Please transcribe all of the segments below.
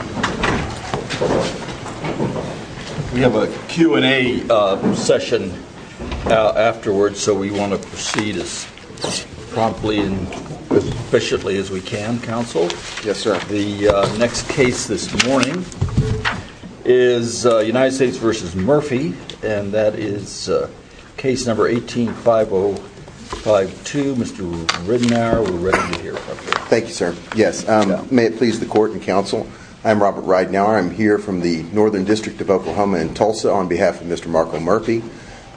We have a Q&A session afterwards so we want to proceed as promptly and efficiently as we can. Counsel? Yes sir. The next case this morning is United States v. Murphy and that is case number 18-5052. Mr. Ridenour we're ready to hear from you. Thank you sir. Yes. May it please the court and counsel, I'm Robert Ridenour, I'm here from the Northern District of Oklahoma in Tulsa on behalf of Mr. Marco Murphy.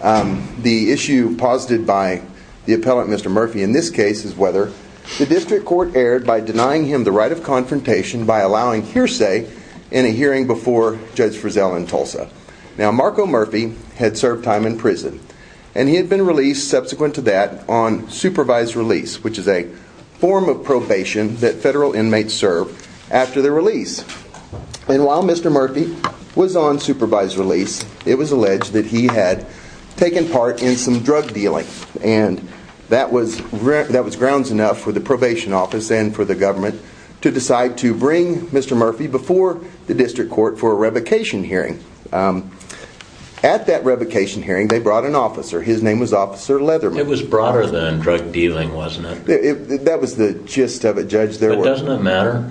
The issue posited by the appellant Mr. Murphy in this case is whether the district court erred by denying him the right of confrontation by allowing hearsay in a hearing before Judge Frizzell in Tulsa. Now Marco Murphy had served time in prison and he had been released subsequent to that on supervised release which is a form of probation that federal inmates serve after the release. And while Mr. Murphy was on supervised release it was alleged that he had taken part in some drug dealing and that was grounds enough for the probation office and for the government to decide to bring Mr. Murphy before the district court for a revocation hearing. At that revocation hearing they brought an officer, his name was Officer Leatherman. It was broader than drug dealing wasn't it? That was the gist of it Judge. But doesn't it matter?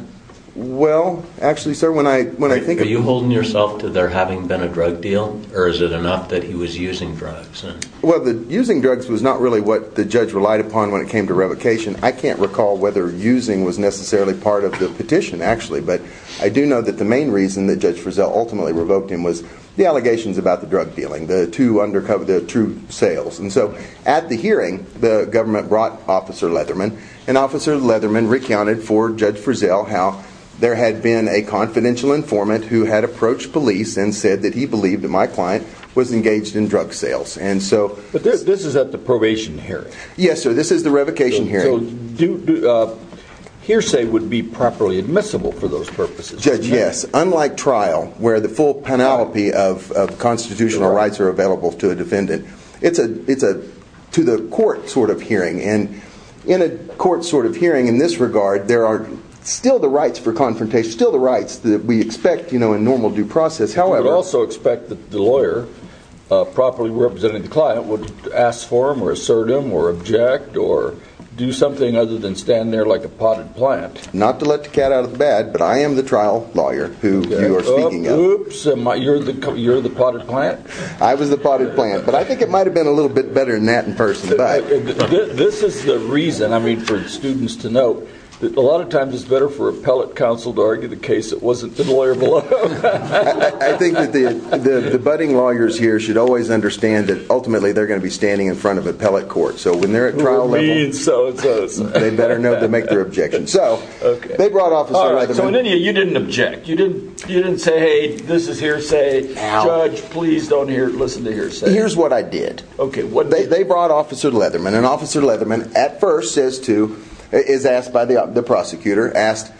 Well actually sir when I think of it. Are you holding yourself to there having been a drug deal or is it enough that he was using drugs? Well using drugs was not really what the judge relied upon when it came to revocation. I can't recall whether using was necessarily part of the petition actually but I do know that the main reason that Judge Frizzell ultimately revoked him was the allegations about the drug sales. And so at the hearing the government brought Officer Leatherman and Officer Leatherman recounted for Judge Frizzell how there had been a confidential informant who had approached police and said that he believed that my client was engaged in drug sales. And so. But this is at the probation hearing? Yes sir this is the revocation hearing. So hearsay would be properly admissible for those purposes? Judge yes. Unlike trial where the full panoply of constitutional rights are available to a defendant. It's a to the court sort of hearing and in a court sort of hearing in this regard there are still the rights for confrontation still the rights that we expect you know in normal due process. However. We also expect that the lawyer properly representing the client would ask for him or assert him or object or do something other than stand there like a potted plant. Not to let the cat out of the bag but I am the trial lawyer who you are speaking of. Oops. You're the potted plant? I was the potted plant. But I think it might have been a little bit better than that in person. This is the reason I mean for students to know that a lot of times it's better for appellate counsel to argue the case that wasn't the lawyer below. I think that the budding lawyers here should always understand that ultimately they're going to be standing in front of appellate court. So when they're at trial level they better know to make their objections. So they brought Officer Leatherman. So in any event you didn't object you didn't you didn't say hey this is hearsay. Judge please don't listen to hearsay. Here's what I did. OK. They brought Officer Leatherman and Officer Leatherman at first says to is asked by the prosecutor asked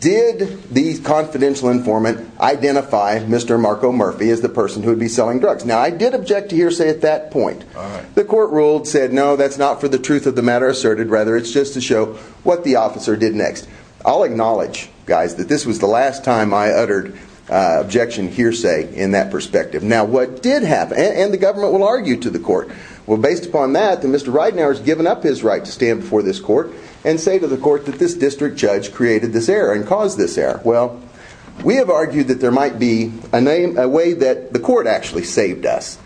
did the confidential informant identify Mr. Marco Murphy as the person who would be selling drugs. Now I did object to hearsay at that point. The court ruled said no that's not for the truth of the matter asserted rather it's just to show what the officer did next. I'll acknowledge guys that this was the last time I uttered objection hearsay in that perspective. Now what did happen and the government will argue to the court. Well based upon that the Mr. Ridenour has given up his right to stand before this court and say to the court that this district judge created this error and caused this error. Well we have argued that there might be a name a way that the court actually saved us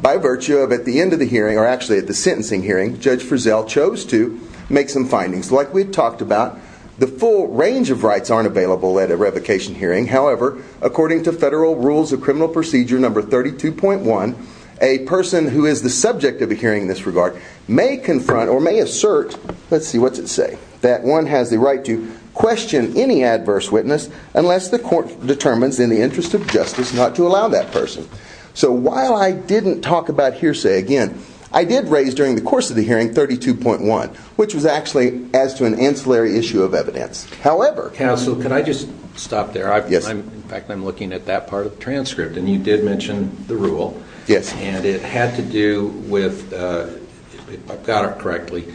by virtue of at the end of the hearing or actually at the sentencing hearing. Judge Frizzell chose to make some findings like we talked about the full range of rights aren't available at a revocation hearing however according to federal rules of criminal procedure number 32.1 a person who is the subject of a hearing in this regard may confront or may assert let's see what's it say that one has the right to question any adverse witness unless the court determines in the interest of justice not to allow that person. So while I didn't talk about hearsay again I did raise during the course of the hearing 32.1 which was actually as to an ancillary issue of evidence. However counsel can I just stop there I'm in fact I'm looking at that part of the transcript and you did mention the rule and it had to do with I've got it correctly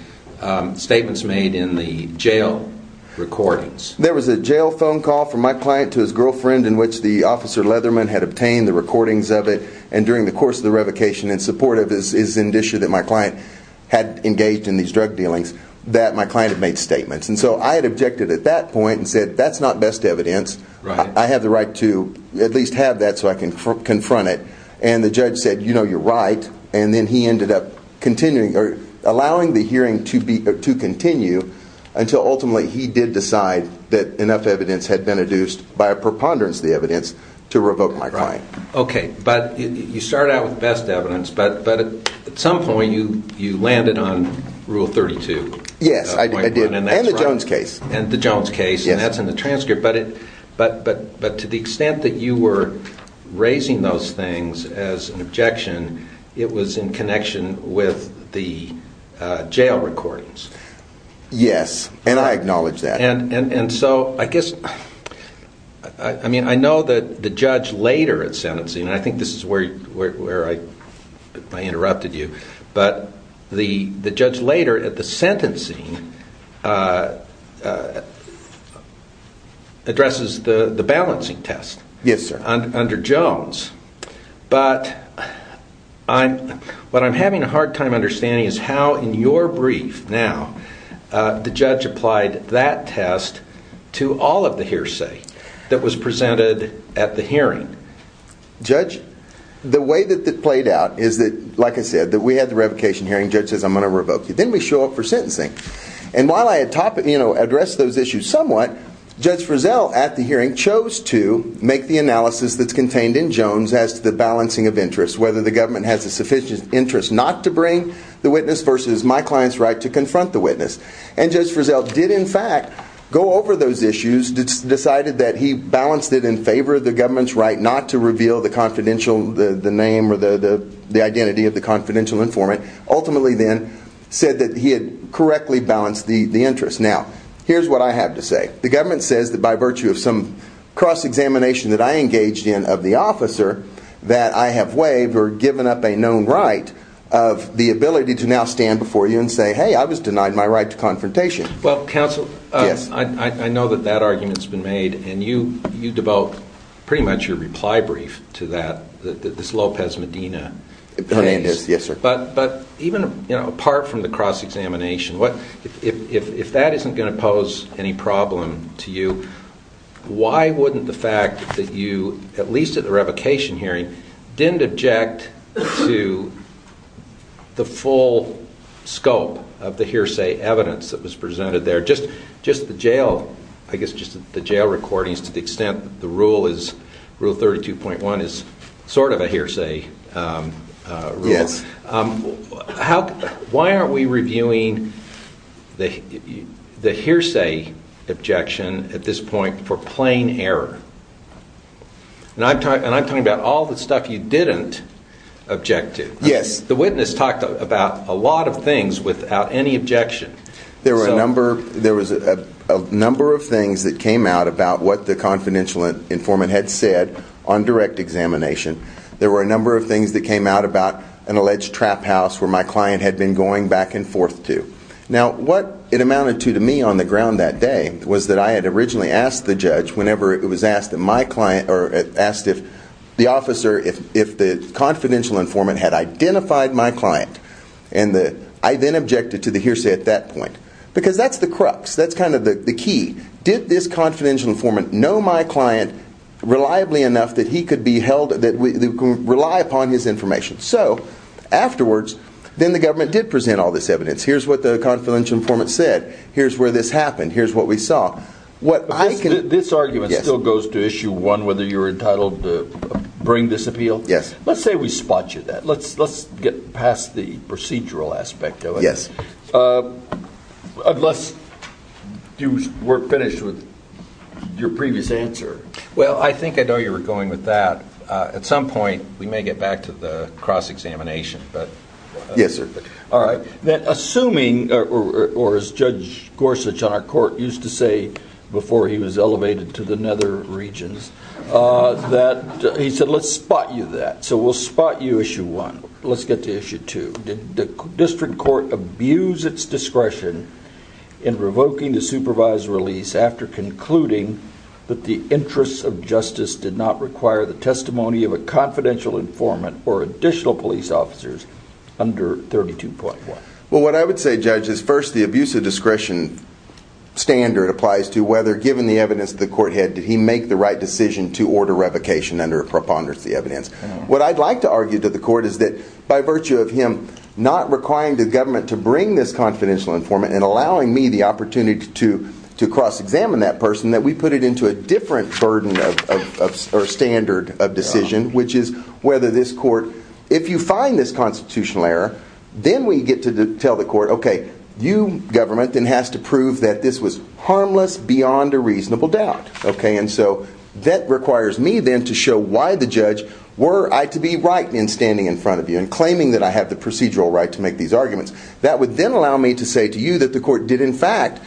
statements made in the jail recordings. There was a jail phone call from my client to his girlfriend in which the officer Leatherman had obtained the recordings of it and during the course of the revocation in support of this is an issue that my client had engaged in these drug dealings that my client made statements and so I had objected at that point and said that's not best evidence I have the right to at least have that so I can confront it and the judge said you know you're right and then he ended up continuing or allowing the hearing to be to continue until ultimately he did decide that enough evidence had been adduced by a preponderance the evidence to my client. Okay but you started out with best evidence but at some point you landed on rule 32. Yes I did and the Jones case. And the Jones case and that's in the transcript but to the extent that you were raising those things as an objection it was in connection with the jail recordings. Yes and I acknowledge that. And so I guess I mean I know that the judge later at sentencing and I think this is where I interrupted you but the judge later at the sentencing addresses the balancing test under Jones but what I'm having a hard time understanding is how in your brief now the judge applied that test to all of the hearsay that was presented at the hearing. Judge the way that that played out is that like I said that we had the revocation hearing judge says I'm going to revoke you then we show up for sentencing and while I had talked you know addressed those issues somewhat Judge Frizzell at the hearing chose to make the analysis that's contained in Jones as to the balancing of interest whether the government has a sufficient interest not to bring the witness versus my client's right to confront the witness. And Judge Frizzell did in fact go over those issues decided that he balanced it in favor of the government's right not to reveal the confidential the name or the identity of the confidential informant ultimately then said that he had correctly balanced the interest. Now here's what I have to say the government says that by virtue of some cross examination that I engaged in of the officer that I have waived or given up a known right of the ability to now stand before you and say hey I was denied my right to confrontation. Well counsel yes I know that that argument has been made and you you devote pretty much your reply brief to that this Lopez Medina Hernandez yes sir but but even you know apart from the cross examination what if that isn't going to pose any problem to you why wouldn't the fact that you at least at the revocation hearing didn't object to the full scope of the hearsay evidence that was presented there just just the jail I guess just the jail recordings to the extent the rule is rule 32.1 is sort of a hearsay rule. Why aren't we reviewing the hearsay objection at this point for plain error? And I'm talking about all the stuff you didn't object to. Yes. The witness talked about a lot of things without any objection. There were a number there was a number of things that came out about what the confidential informant had said on direct examination. There were a number of things that came out about an alleged trap house where my client had been going back and forth to. Now what it amounted to to me on the ground that day was that I had originally asked the judge whenever it was asked that my client or asked if the officer if if the confidential informant had identified my client and that I then objected to the hearsay at that point because that's the crux that's kind of the key. Did this confidential informant know my client reliably enough that he could be held that we can rely upon his information so afterwards then the government did present all this evidence here's what the confidential informant said here's where this happened here's what we saw. What I can do this argument still goes to issue one whether you're entitled to bring this appeal. Yes. Let's say we spot you that let's let's get past the procedural aspect of it. Yes. Unless you were finished with your previous answer. Well I think I know you were going with that at some point we may get back to the cross examination but yes sir. All right. Assuming or as Judge Gorsuch on our court used to say before he was elevated to the nether regions that he said let's spot you that so we'll spot you issue one. Let's get to issue two. Did the district court abuse its discretion in revoking the supervised release after concluding that the interests of justice did not require the testimony of the confidential informant or additional police officers under 32.1. Well what I would say judge is first the abuse of discretion standard applies to whether given the evidence the court had did he make the right decision to order revocation under a preponderance of the evidence. What I'd like to argue to the court is that by virtue of him not requiring the government to bring this confidential informant and allowing me the opportunity to to cross examine that person that we put it into a different burden of or standard of decision which is whether this court if you find this constitutional error then we get to tell the court okay you government then has to prove that this was harmless beyond a reasonable doubt okay and so that requires me then to show why the judge were I to be right in standing in front of you and claiming that I have the procedural right to make these arguments that would then allow me to say to you that the court did in fact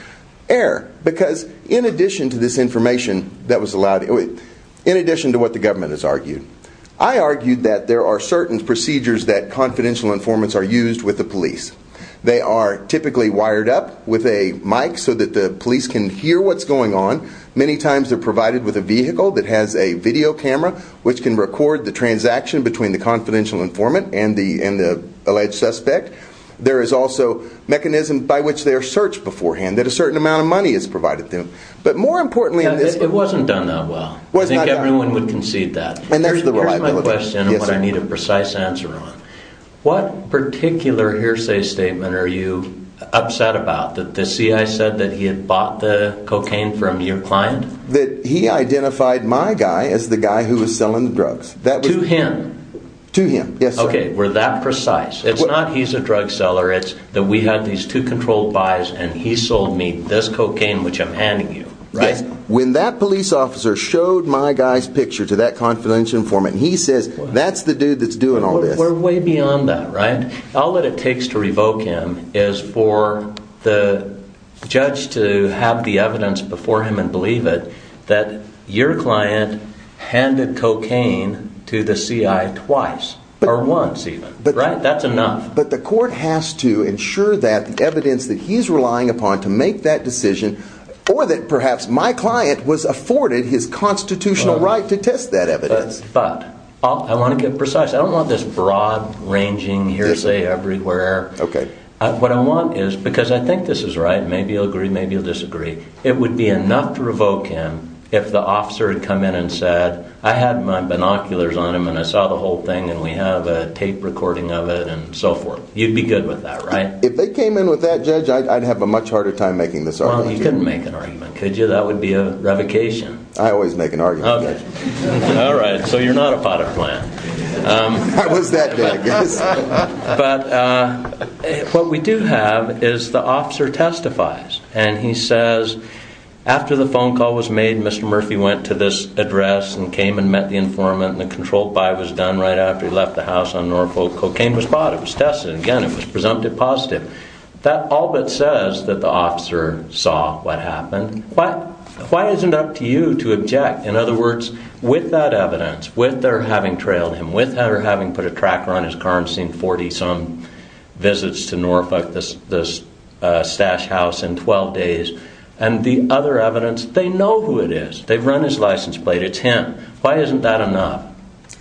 err because in addition to this information that was allowed in addition to what the government has argued I argued that there are certain procedures that confidential informants are used with the police they are typically wired up with a mic so that the police can hear what's going on many times they're provided with a vehicle that has a video camera which can record the transaction between the confidential informant and the alleged suspect there is also mechanism by which they are searched beforehand that a certain amount of money is provided to them but more importantly it wasn't done that well I think everyone would concede that and there's the question I need a precise answer on what particular hearsay statement are you upset about that the CI said that he had bought the cocaine from your client that he identified my guy as the guy who was selling drugs that to him to him yes okay we're that precise it's not he's a drug seller it's that we have these two controlled buys and he sold me this cocaine which I'm handing you right when that police officer showed my guys picture to that confidential informant he says that's the dude that's doing all this we're way beyond that right I'll let it takes to revoke him is for the judge to have the evidence before him and believe it that your client handed cocaine to the CI twice or once even but right that's enough but the court has to ensure that the evidence that he's relying upon to make that decision or that perhaps my client was afforded his constitutional right to test that evidence but I want to get precise I don't want this broad ranging hearsay everywhere okay what I want is because I think this is right maybe you'll disagree it would be enough to revoke him if the officer had come in and said I had my binoculars on him and I saw the whole thing and we have a tape recording of it and so forth you'd be good with that right if they came in with that judge I'd have a much harder time making this argument you couldn't make an argument could you that would be a revocation I always make an but what we do have is the officer testifies and he says after the phone call was made mr. Murphy went to this address and came and met the informant and the controlled by was done right after he left the house on Norfolk cocaine was bought it was tested again it was presumptive positive that all that says that the officer saw what happened but why is it up to you to object in other words with that evidence with their having trailed him with her having put a tracker on his car and seen 40 some visits to Norfolk this this stash house in 12 days and the other evidence they know who it is they've run his license plate it's him why isn't that enough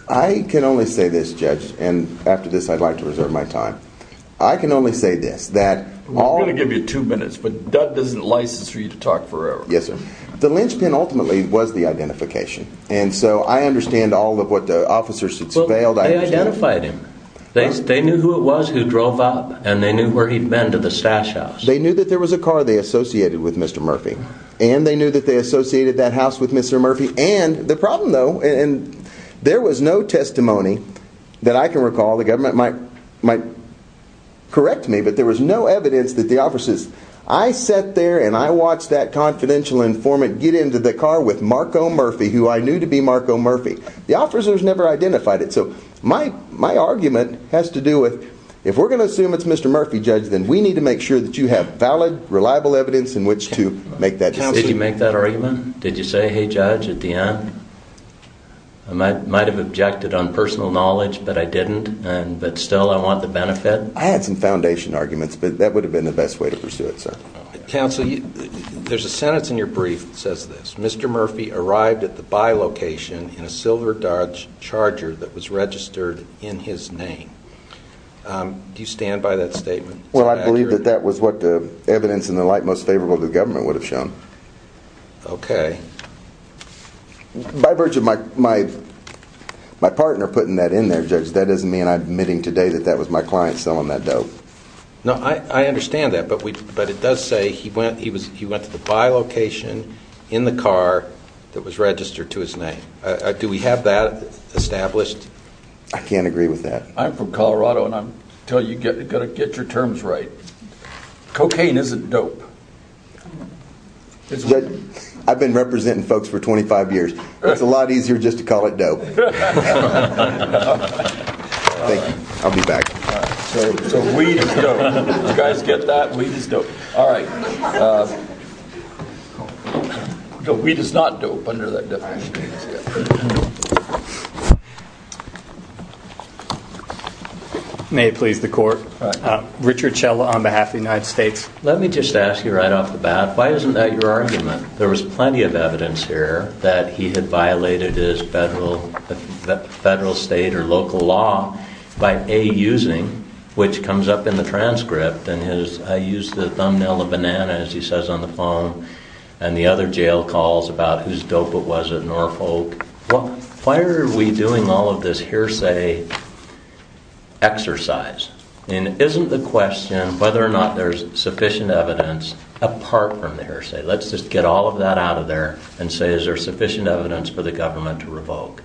I can only say this judge and after this I'd like to reserve my time I can only say this that all gonna give you two minutes but that doesn't license for you to talk forever yes sir the linchpin ultimately was the identification and so I understand all of what the officers expelled I identified him thanks they knew who it was who drove up and they knew where he'd been to the stash house they knew that there was a car they associated with mr. Murphy and they knew that they associated that house with mr. Murphy and the problem though and there was no testimony that I can recall the government might might correct me but there was no evidence that the officers I sat there and I watched that Murphy who I knew to be Marco Murphy the officers never identified it so my my argument has to do with if we're gonna assume it's mr. Murphy judge then we need to make sure that you have valid reliable evidence in which to make that did you make that argument did you say hey judge at the end I might might have objected on personal knowledge but I didn't and but still I want the benefit I had some foundation arguments but that would have been the best way to pursue it counsel you there's a sentence in your brief that says this mr. Murphy arrived at the by location in a silver Dodge Charger that was registered in his name do you stand by that statement well I believe that that was what the evidence in the light most favorable to the government would have shown okay by virtue of my my my partner putting that in there judge that doesn't mean I'm admitting today that that was my client selling that dope no I understand that but it does say he went he was he went to the by location in the car that was registered to his name do we have that established I can't agree with that I'm from Colorado and I'm tell you get it gonna get your terms right cocaine isn't dope it's good I've been representing folks for 25 years it's a lot easier just to call it dope we does not do may please the court Richard Schella on behalf of the United States let me just ask you right off the bat why isn't that your argument there was plenty of evidence here that he had violated his federal federal state or local law by a using which comes up in the transcript and his I use the thumbnail of banana as he says on the phone and the other jail calls about who's dope it was at Norfolk well why are we doing all of this hearsay exercise and isn't the question whether or not there's sufficient evidence apart from the hearsay let's just get all of that out of there and say is there sufficient evidence for the government to revoke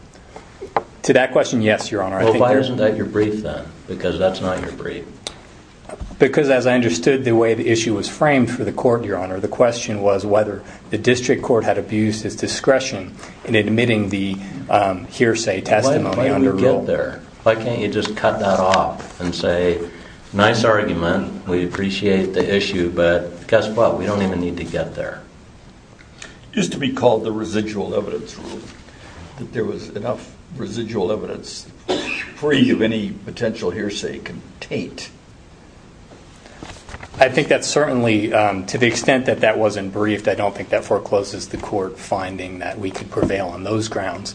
to that question yes your honor I think isn't that your brief then because that's not your brief because as I understood the way the issue was framed for the court your honor the question was whether the district court had abused his discretion in admitting the hearsay testimony under get there why can't you just cut that off and say nice argument we appreciate the need to get there just to be called the residual evidence there was enough residual evidence free of any potential hearsay contained I think that's certainly to the extent that that wasn't briefed I don't think that forecloses the court finding that we could prevail on those grounds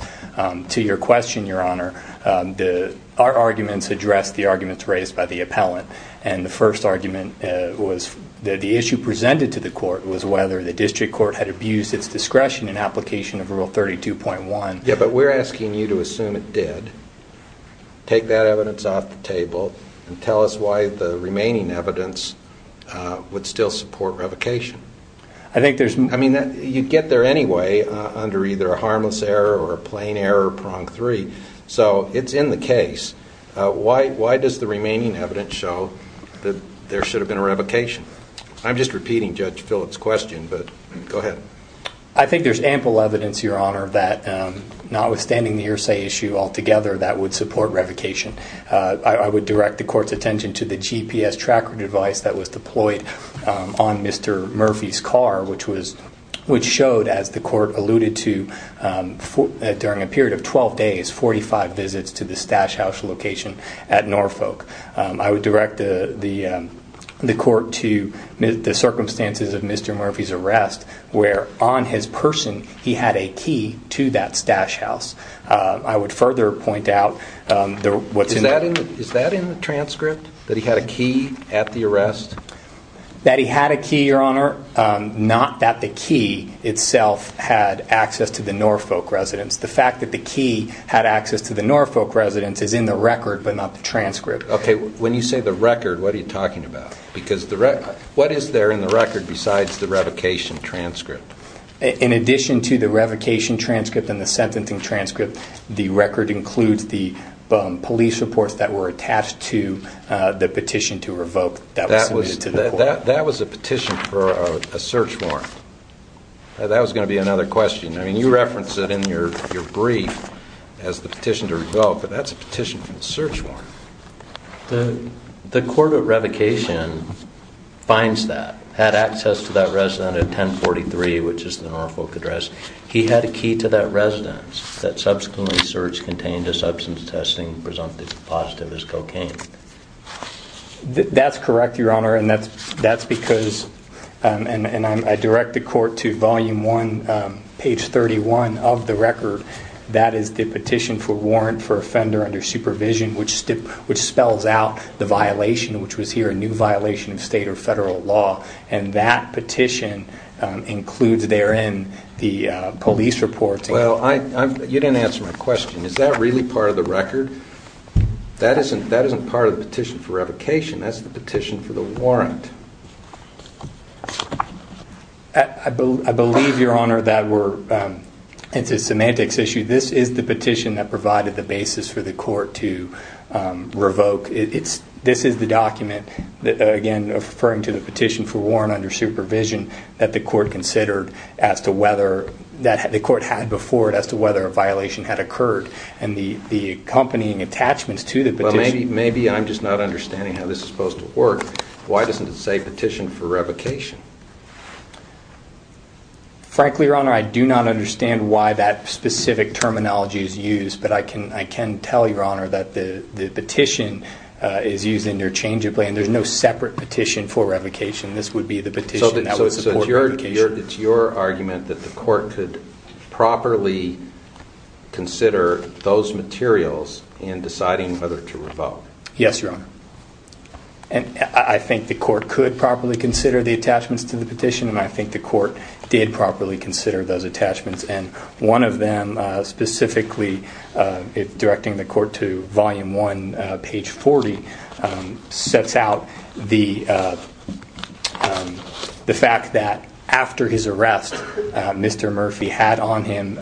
to your question your honor the our arguments addressed the arguments raised by the appellant and the the issue presented to the court was whether the district court had abused its discretion in application of rule 32.1 yeah but we're asking you to assume it did take that evidence off the table and tell us why the remaining evidence would still support revocation I think there's I mean that you get there anyway under either a harmless error or a plain error prong three so it's in the case why does the remaining evidence show that there should have been a revocation I'm just repeating judge Phillips question but go ahead I think there's ample evidence your honor that not withstanding the hearsay issue altogether that would support revocation I would direct the court's attention to the GPS tracker device that was deployed on mr. Murphy's car which was which showed as the Norfolk I would direct the the the court to the circumstances of mr. Murphy's arrest where on his person he had a key to that stash house I would further point out what's in that is that in the transcript that he had a key at the arrest that he had a key your honor not that the key itself had access to the Norfolk residence the fact that the key had access to the Norfolk residence is in the record but not the transcript okay when you say the record what are you talking about because the record what is there in the record besides the revocation transcript in addition to the revocation transcript and the sentencing transcript the record includes the police reports that were attached to the petition to revoke that was that was a petition for a search warrant that was going to be another question I mean you reference it in your brief as the petition to revoke but that's a search warrant the the court of revocation finds that had access to that resident at 1043 which is the Norfolk address he had a key to that residence that subsequently search contained a substance testing presumptive positive as cocaine that's correct your honor and that's that's because and and I direct the court to volume 1 page 31 of the record that is the petition for warrant for supervision which stip which spells out the violation which was here a new violation of state or federal law and that petition includes therein the police reports well I you didn't answer my question is that really part of the record that isn't that isn't part of the petition for revocation that's the petition for the warrant I believe your honor that were into semantics issue this is the to revoke it's this is the document that again referring to the petition for warrant under supervision that the court considered as to whether that had the court had before it as to whether a violation had occurred and the the accompanying attachments to the maybe maybe I'm just not understanding how this is supposed to work why doesn't it say petition for revocation frankly your honor I do not understand why that specific terminology is used but I can I can tell your honor that the the petition is using their change of plan there's no separate petition for revocation this would be the petition so that's your it's your argument that the court could properly consider those materials in deciding whether to revoke yes your honor and I think the court could properly consider the attachments to the petition and I think the court did properly consider those attachments and one of them specifically if directing the court to volume 1 page 40 sets out the the fact that after his arrest mr. Murphy had on him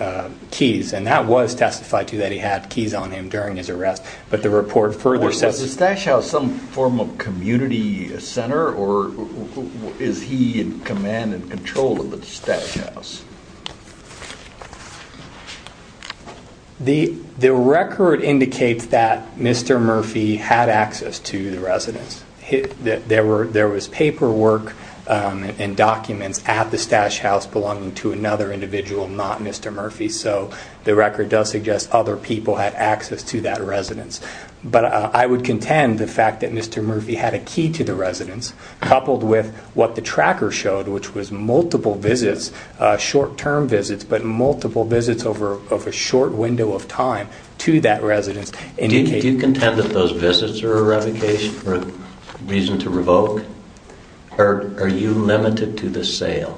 keys and that was testified to that he had keys on him during his arrest but the report further says the stash house some form of community center or is he in command and control of the stash house the the record indicates that mr. Murphy had access to the residence hit that there were there was paperwork and documents at the stash house belonging to another individual not mr. Murphy so the record does suggest other people had access to that residence but I would contend the fact that mr. Murphy had a key to the residence coupled with what the tracker showed which was multiple visits short-term visits but multiple visits over of a short window of time to that residence and you contend that those visits are a revocation for a reason to revoke or are you limited to the sale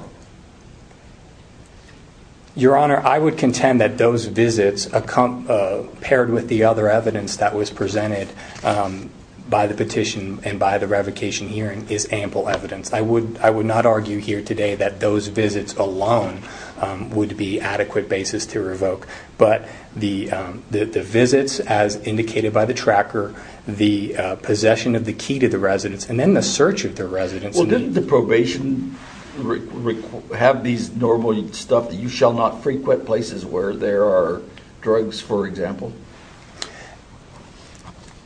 your honor I would contend that those visits a comp paired with the other evidence that was presented by the petition and by the revocation hearing is ample evidence I would I would not argue here today that those visits alone would be adequate basis to revoke but the the visits as indicated by the tracker the possession of the key to the residence and then the search of the didn't the probation have these normally stuff that you shall not frequent places where there are drugs for example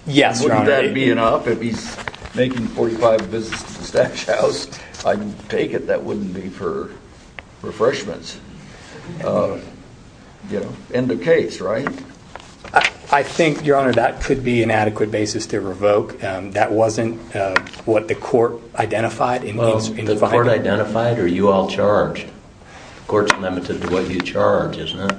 yes that'd be enough if he's making 45 visits to stash house I take it that wouldn't be for refreshments you know in the case right I think your honor that could be an identified or you all charged courts limited to what you charge isn't it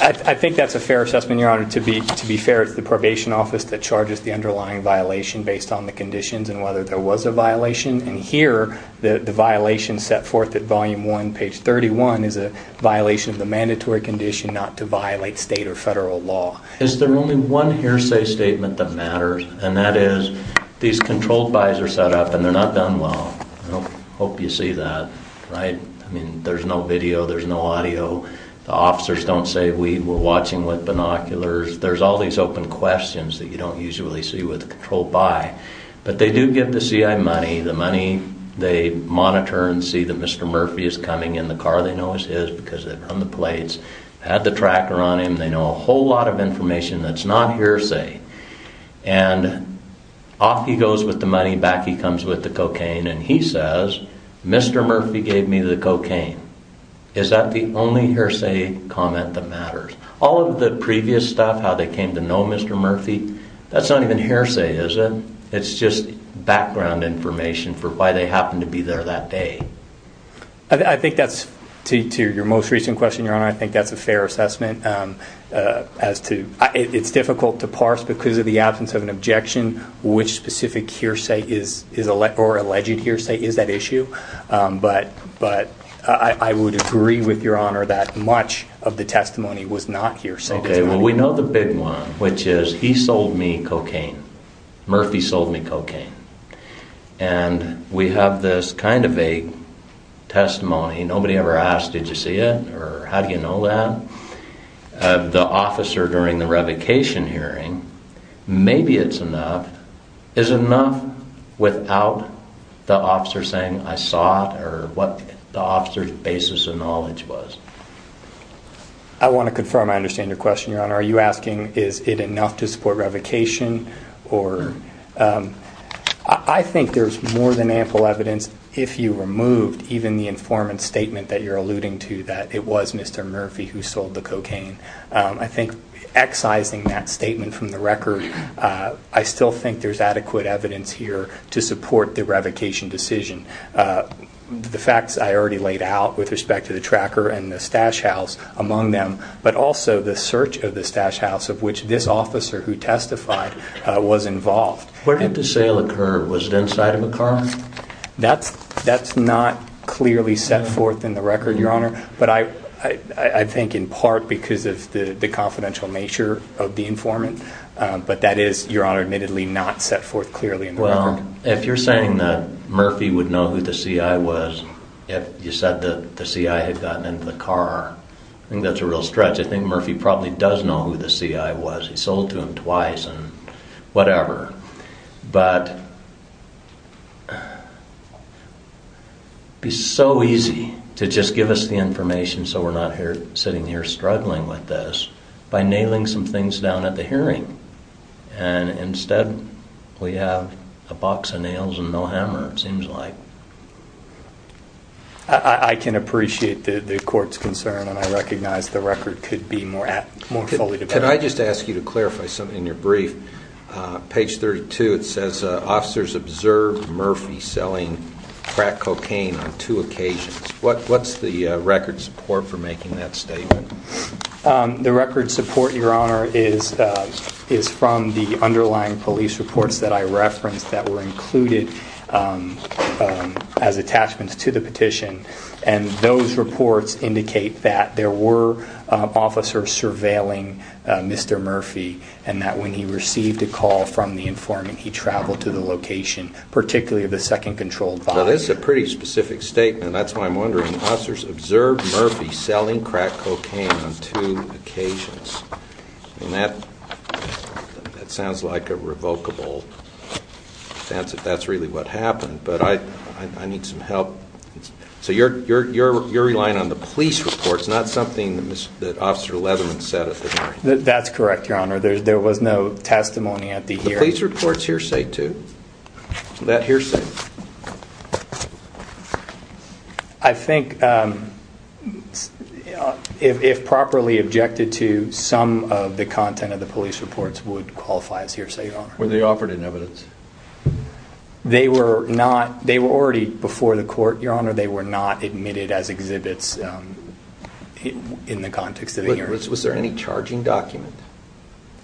I think that's a fair assessment your honor to be to be fair it's the probation office that charges the underlying violation based on the conditions and whether there was a violation and here the violation set forth at volume 1 page 31 is a violation of the mandatory condition not to violate state or are set up and they're not done well hope you see that right I mean there's no video there's no audio the officers don't say we were watching with binoculars there's all these open questions that you don't usually see with control by but they do give the CI money the money they monitor and see that mr. Murphy is coming in the car they know is his because they're on the plates had the money back he comes with the cocaine and he says mr. Murphy gave me the cocaine is that the only hearsay comment that matters all of the previous stuff how they came to know mr. Murphy that's not even hearsay is it it's just background information for why they happen to be there that day I think that's to your most recent question your honor I think that's a fair assessment as to it's difficult to parse because of the absence of an objection which specific hearsay is is a let or alleged hearsay is that issue but but I would agree with your honor that much of the testimony was not hearsay okay well we know the big one which is he sold me cocaine Murphy sold me cocaine and we have this kind of a testimony nobody ever asked did you see it or how do you know that the officer during the revocation hearing maybe it's enough is enough without the officer saying I saw it or what the officers basis of knowledge was I want to confirm I understand your question your honor are you asking is it enough to support revocation or I think there's more than ample evidence if you removed even the informant statement that you're alluding to that it was mr. Murphy who sold the that statement from the record I still think there's adequate evidence here to support the revocation decision the facts I already laid out with respect to the tracker and the stash house among them but also the search of the stash house of which this officer who testified was involved where did the sale occur was it inside of a car that's that's not clearly set forth in the record your honor but I I think in part because of the the confidential nature of the informant but that is your honor admittedly not set forth clearly well if you're saying that Murphy would know who the CI was if you said that the CI had gotten into the car I think that's a real stretch I think Murphy probably does know who the CI was he sold to him twice and whatever but be so easy to just give us the information so we're not here sitting here struggling with this by nailing some things down at the hearing and instead we have a box of nails and no hammer it seems like I can appreciate the court's concern and I recognize the record could be more at more fully today I just ask you to clarify something in your brief page 32 it says officers observed Murphy selling crack cocaine on the record support for making that statement the record support your honor is is from the underlying police reports that I referenced that were included as attachments to the petition and those reports indicate that there were officers surveilling mr. Murphy and that when he received a call from the informant he traveled to the location particularly of the second controlled this is a pretty specific statement that's why I'm wondering officers observed Murphy selling crack cocaine on two occasions and that that sounds like a revocable that's if that's really what happened but I I need some help so you're you're you're relying on the police reports not something that officer Leatherman said if that's correct your honor there was no testimony at the I think if properly objected to some of the content of the police reports would qualify as hearsay on where they offered in evidence they were not they were already before the court your honor they were not admitted as exhibits in the context of the year was there any charging document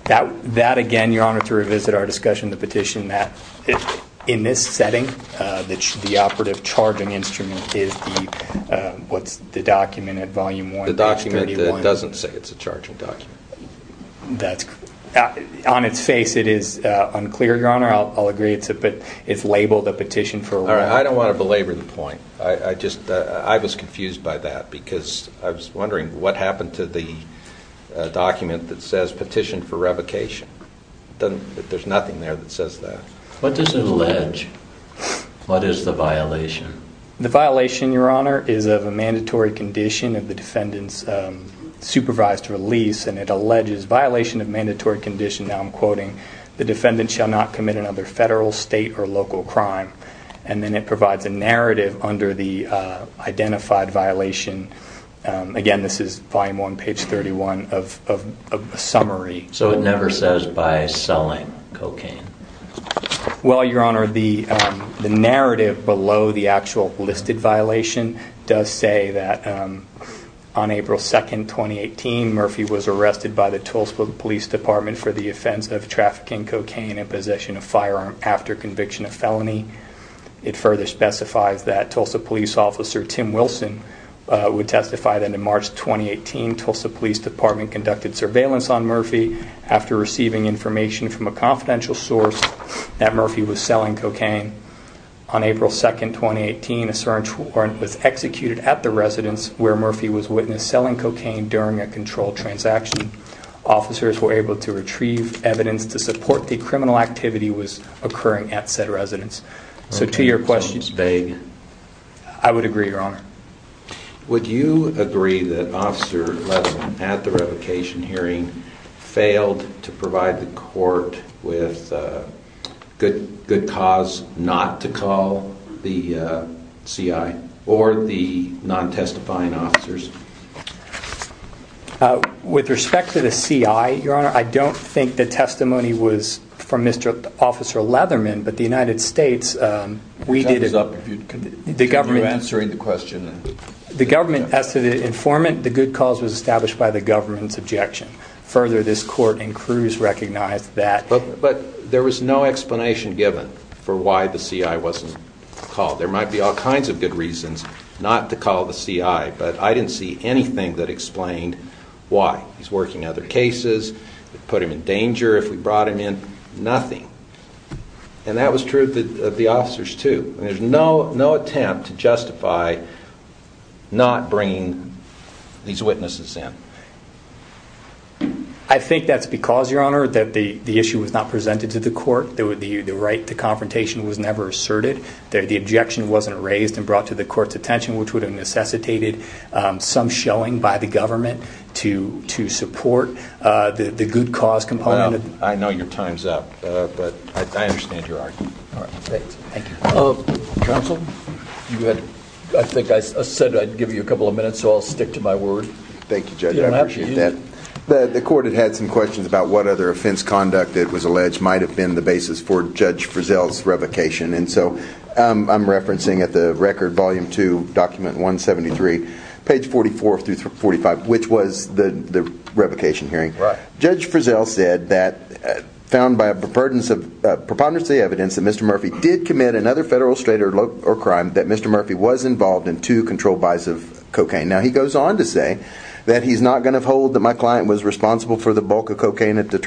that that again your honor to revisit our discussion the petition that in this setting that should be operative charging instrument is what's the document at volume one the document that doesn't say it's a charging document that's on its face it is unclear your honor I'll agree it's a bit it's labeled a petition for all right I don't want to belabor the point I just I was a document that says petition for revocation then there's nothing there that says that what does it allege what is the violation the violation your honor is of a mandatory condition of the defendant's supervised release and it alleges violation of mandatory condition now I'm quoting the defendant shall not commit another federal state or local crime and then it provides a identified violation again this is volume one page 31 of a summary so it never says by selling cocaine well your honor the narrative below the actual listed violation does say that on April 2nd 2018 Murphy was arrested by the Tulsa Police Department for the offense of trafficking cocaine in possession of firearm after conviction of felony it further specifies that Tulsa Police Officer Tim Wilson would testify that in March 2018 Tulsa Police Department conducted surveillance on Murphy after receiving information from a confidential source that Murphy was selling cocaine on April 2nd 2018 a search warrant was executed at the residence where Murphy was witness selling cocaine during a controlled transaction officers were able to retrieve evidence to support the criminal activity was occurring at said residence so to your questions vague I would agree your honor would you agree that officer at the revocation hearing failed to provide the court with good good cause not to call the CI or the non testifying officers with respect to the CI your honor I don't think the testimony was from mr. officer Leatherman but the United States we did it up the government answering the question the government as to the informant the good cause was established by the government's objection further this court and Cruz recognized that but but there was no explanation given for why the CI wasn't called there might be all kinds of good reasons not to call the CI but I didn't see anything that explained why he's working other cases put him in danger if we brought him in nothing and that was true that the officers to there's no no attempt to justify not bringing these witnesses in I think that's because your honor that the the issue was not presented to the court there would be you the confrontation was never asserted there the objection wasn't raised and brought to the court's attention which would have necessitated some showing by the government to to support the the good cause component I know your time's up but I understand your argument I think I said I'd give you a couple of minutes so I'll stick to my word thank you judge that the court had had some questions about what other offense conduct that was alleged might have been the basis for judge Frizzell's revocation and so I'm referencing at the record volume to document 173 page 44 through 45 which was the the revocation hearing right judge Frizzell said that found by a preponderance of preponderance the evidence that mr. Murphy did commit another federal straight or low or crime that mr. Murphy was involved in to control buys of cocaine now he goes on to say that he's not going to hold that my client was responsible for the bulk of cocaine at the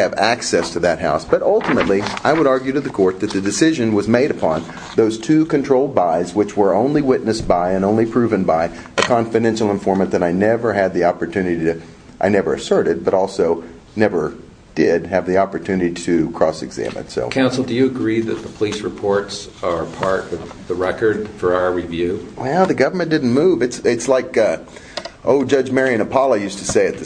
have access to that house but ultimately I would argue to the court that the decision was made upon those two control buys which were only witnessed by and only proven by a confidential informant that I never had the opportunity to I never asserted but also never did have the opportunity to cross-examine so counsel do you agree that the police reports are part of the record for our review well the government didn't move it's it's like Oh judge Marion Apollo used to say at the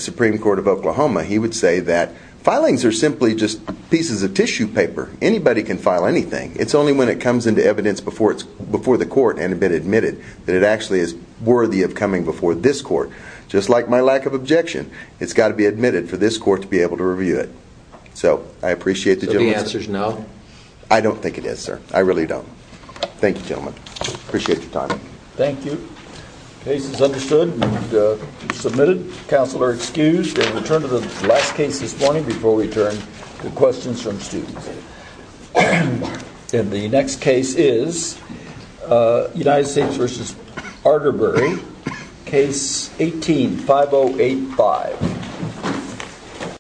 are simply just pieces of tissue paper anybody can file anything it's only when it comes into evidence before it's before the court and have been admitted that it actually is worthy of coming before this court just like my lack of objection it's got to be admitted for this court to be able to review it so I appreciate the answers no I don't think it is sir I really don't thank you gentlemen appreciate your time thank you submitted counselor excused and return to the last case this morning before we turn to questions from students and the next case is United States versus Arterbury case 18 5085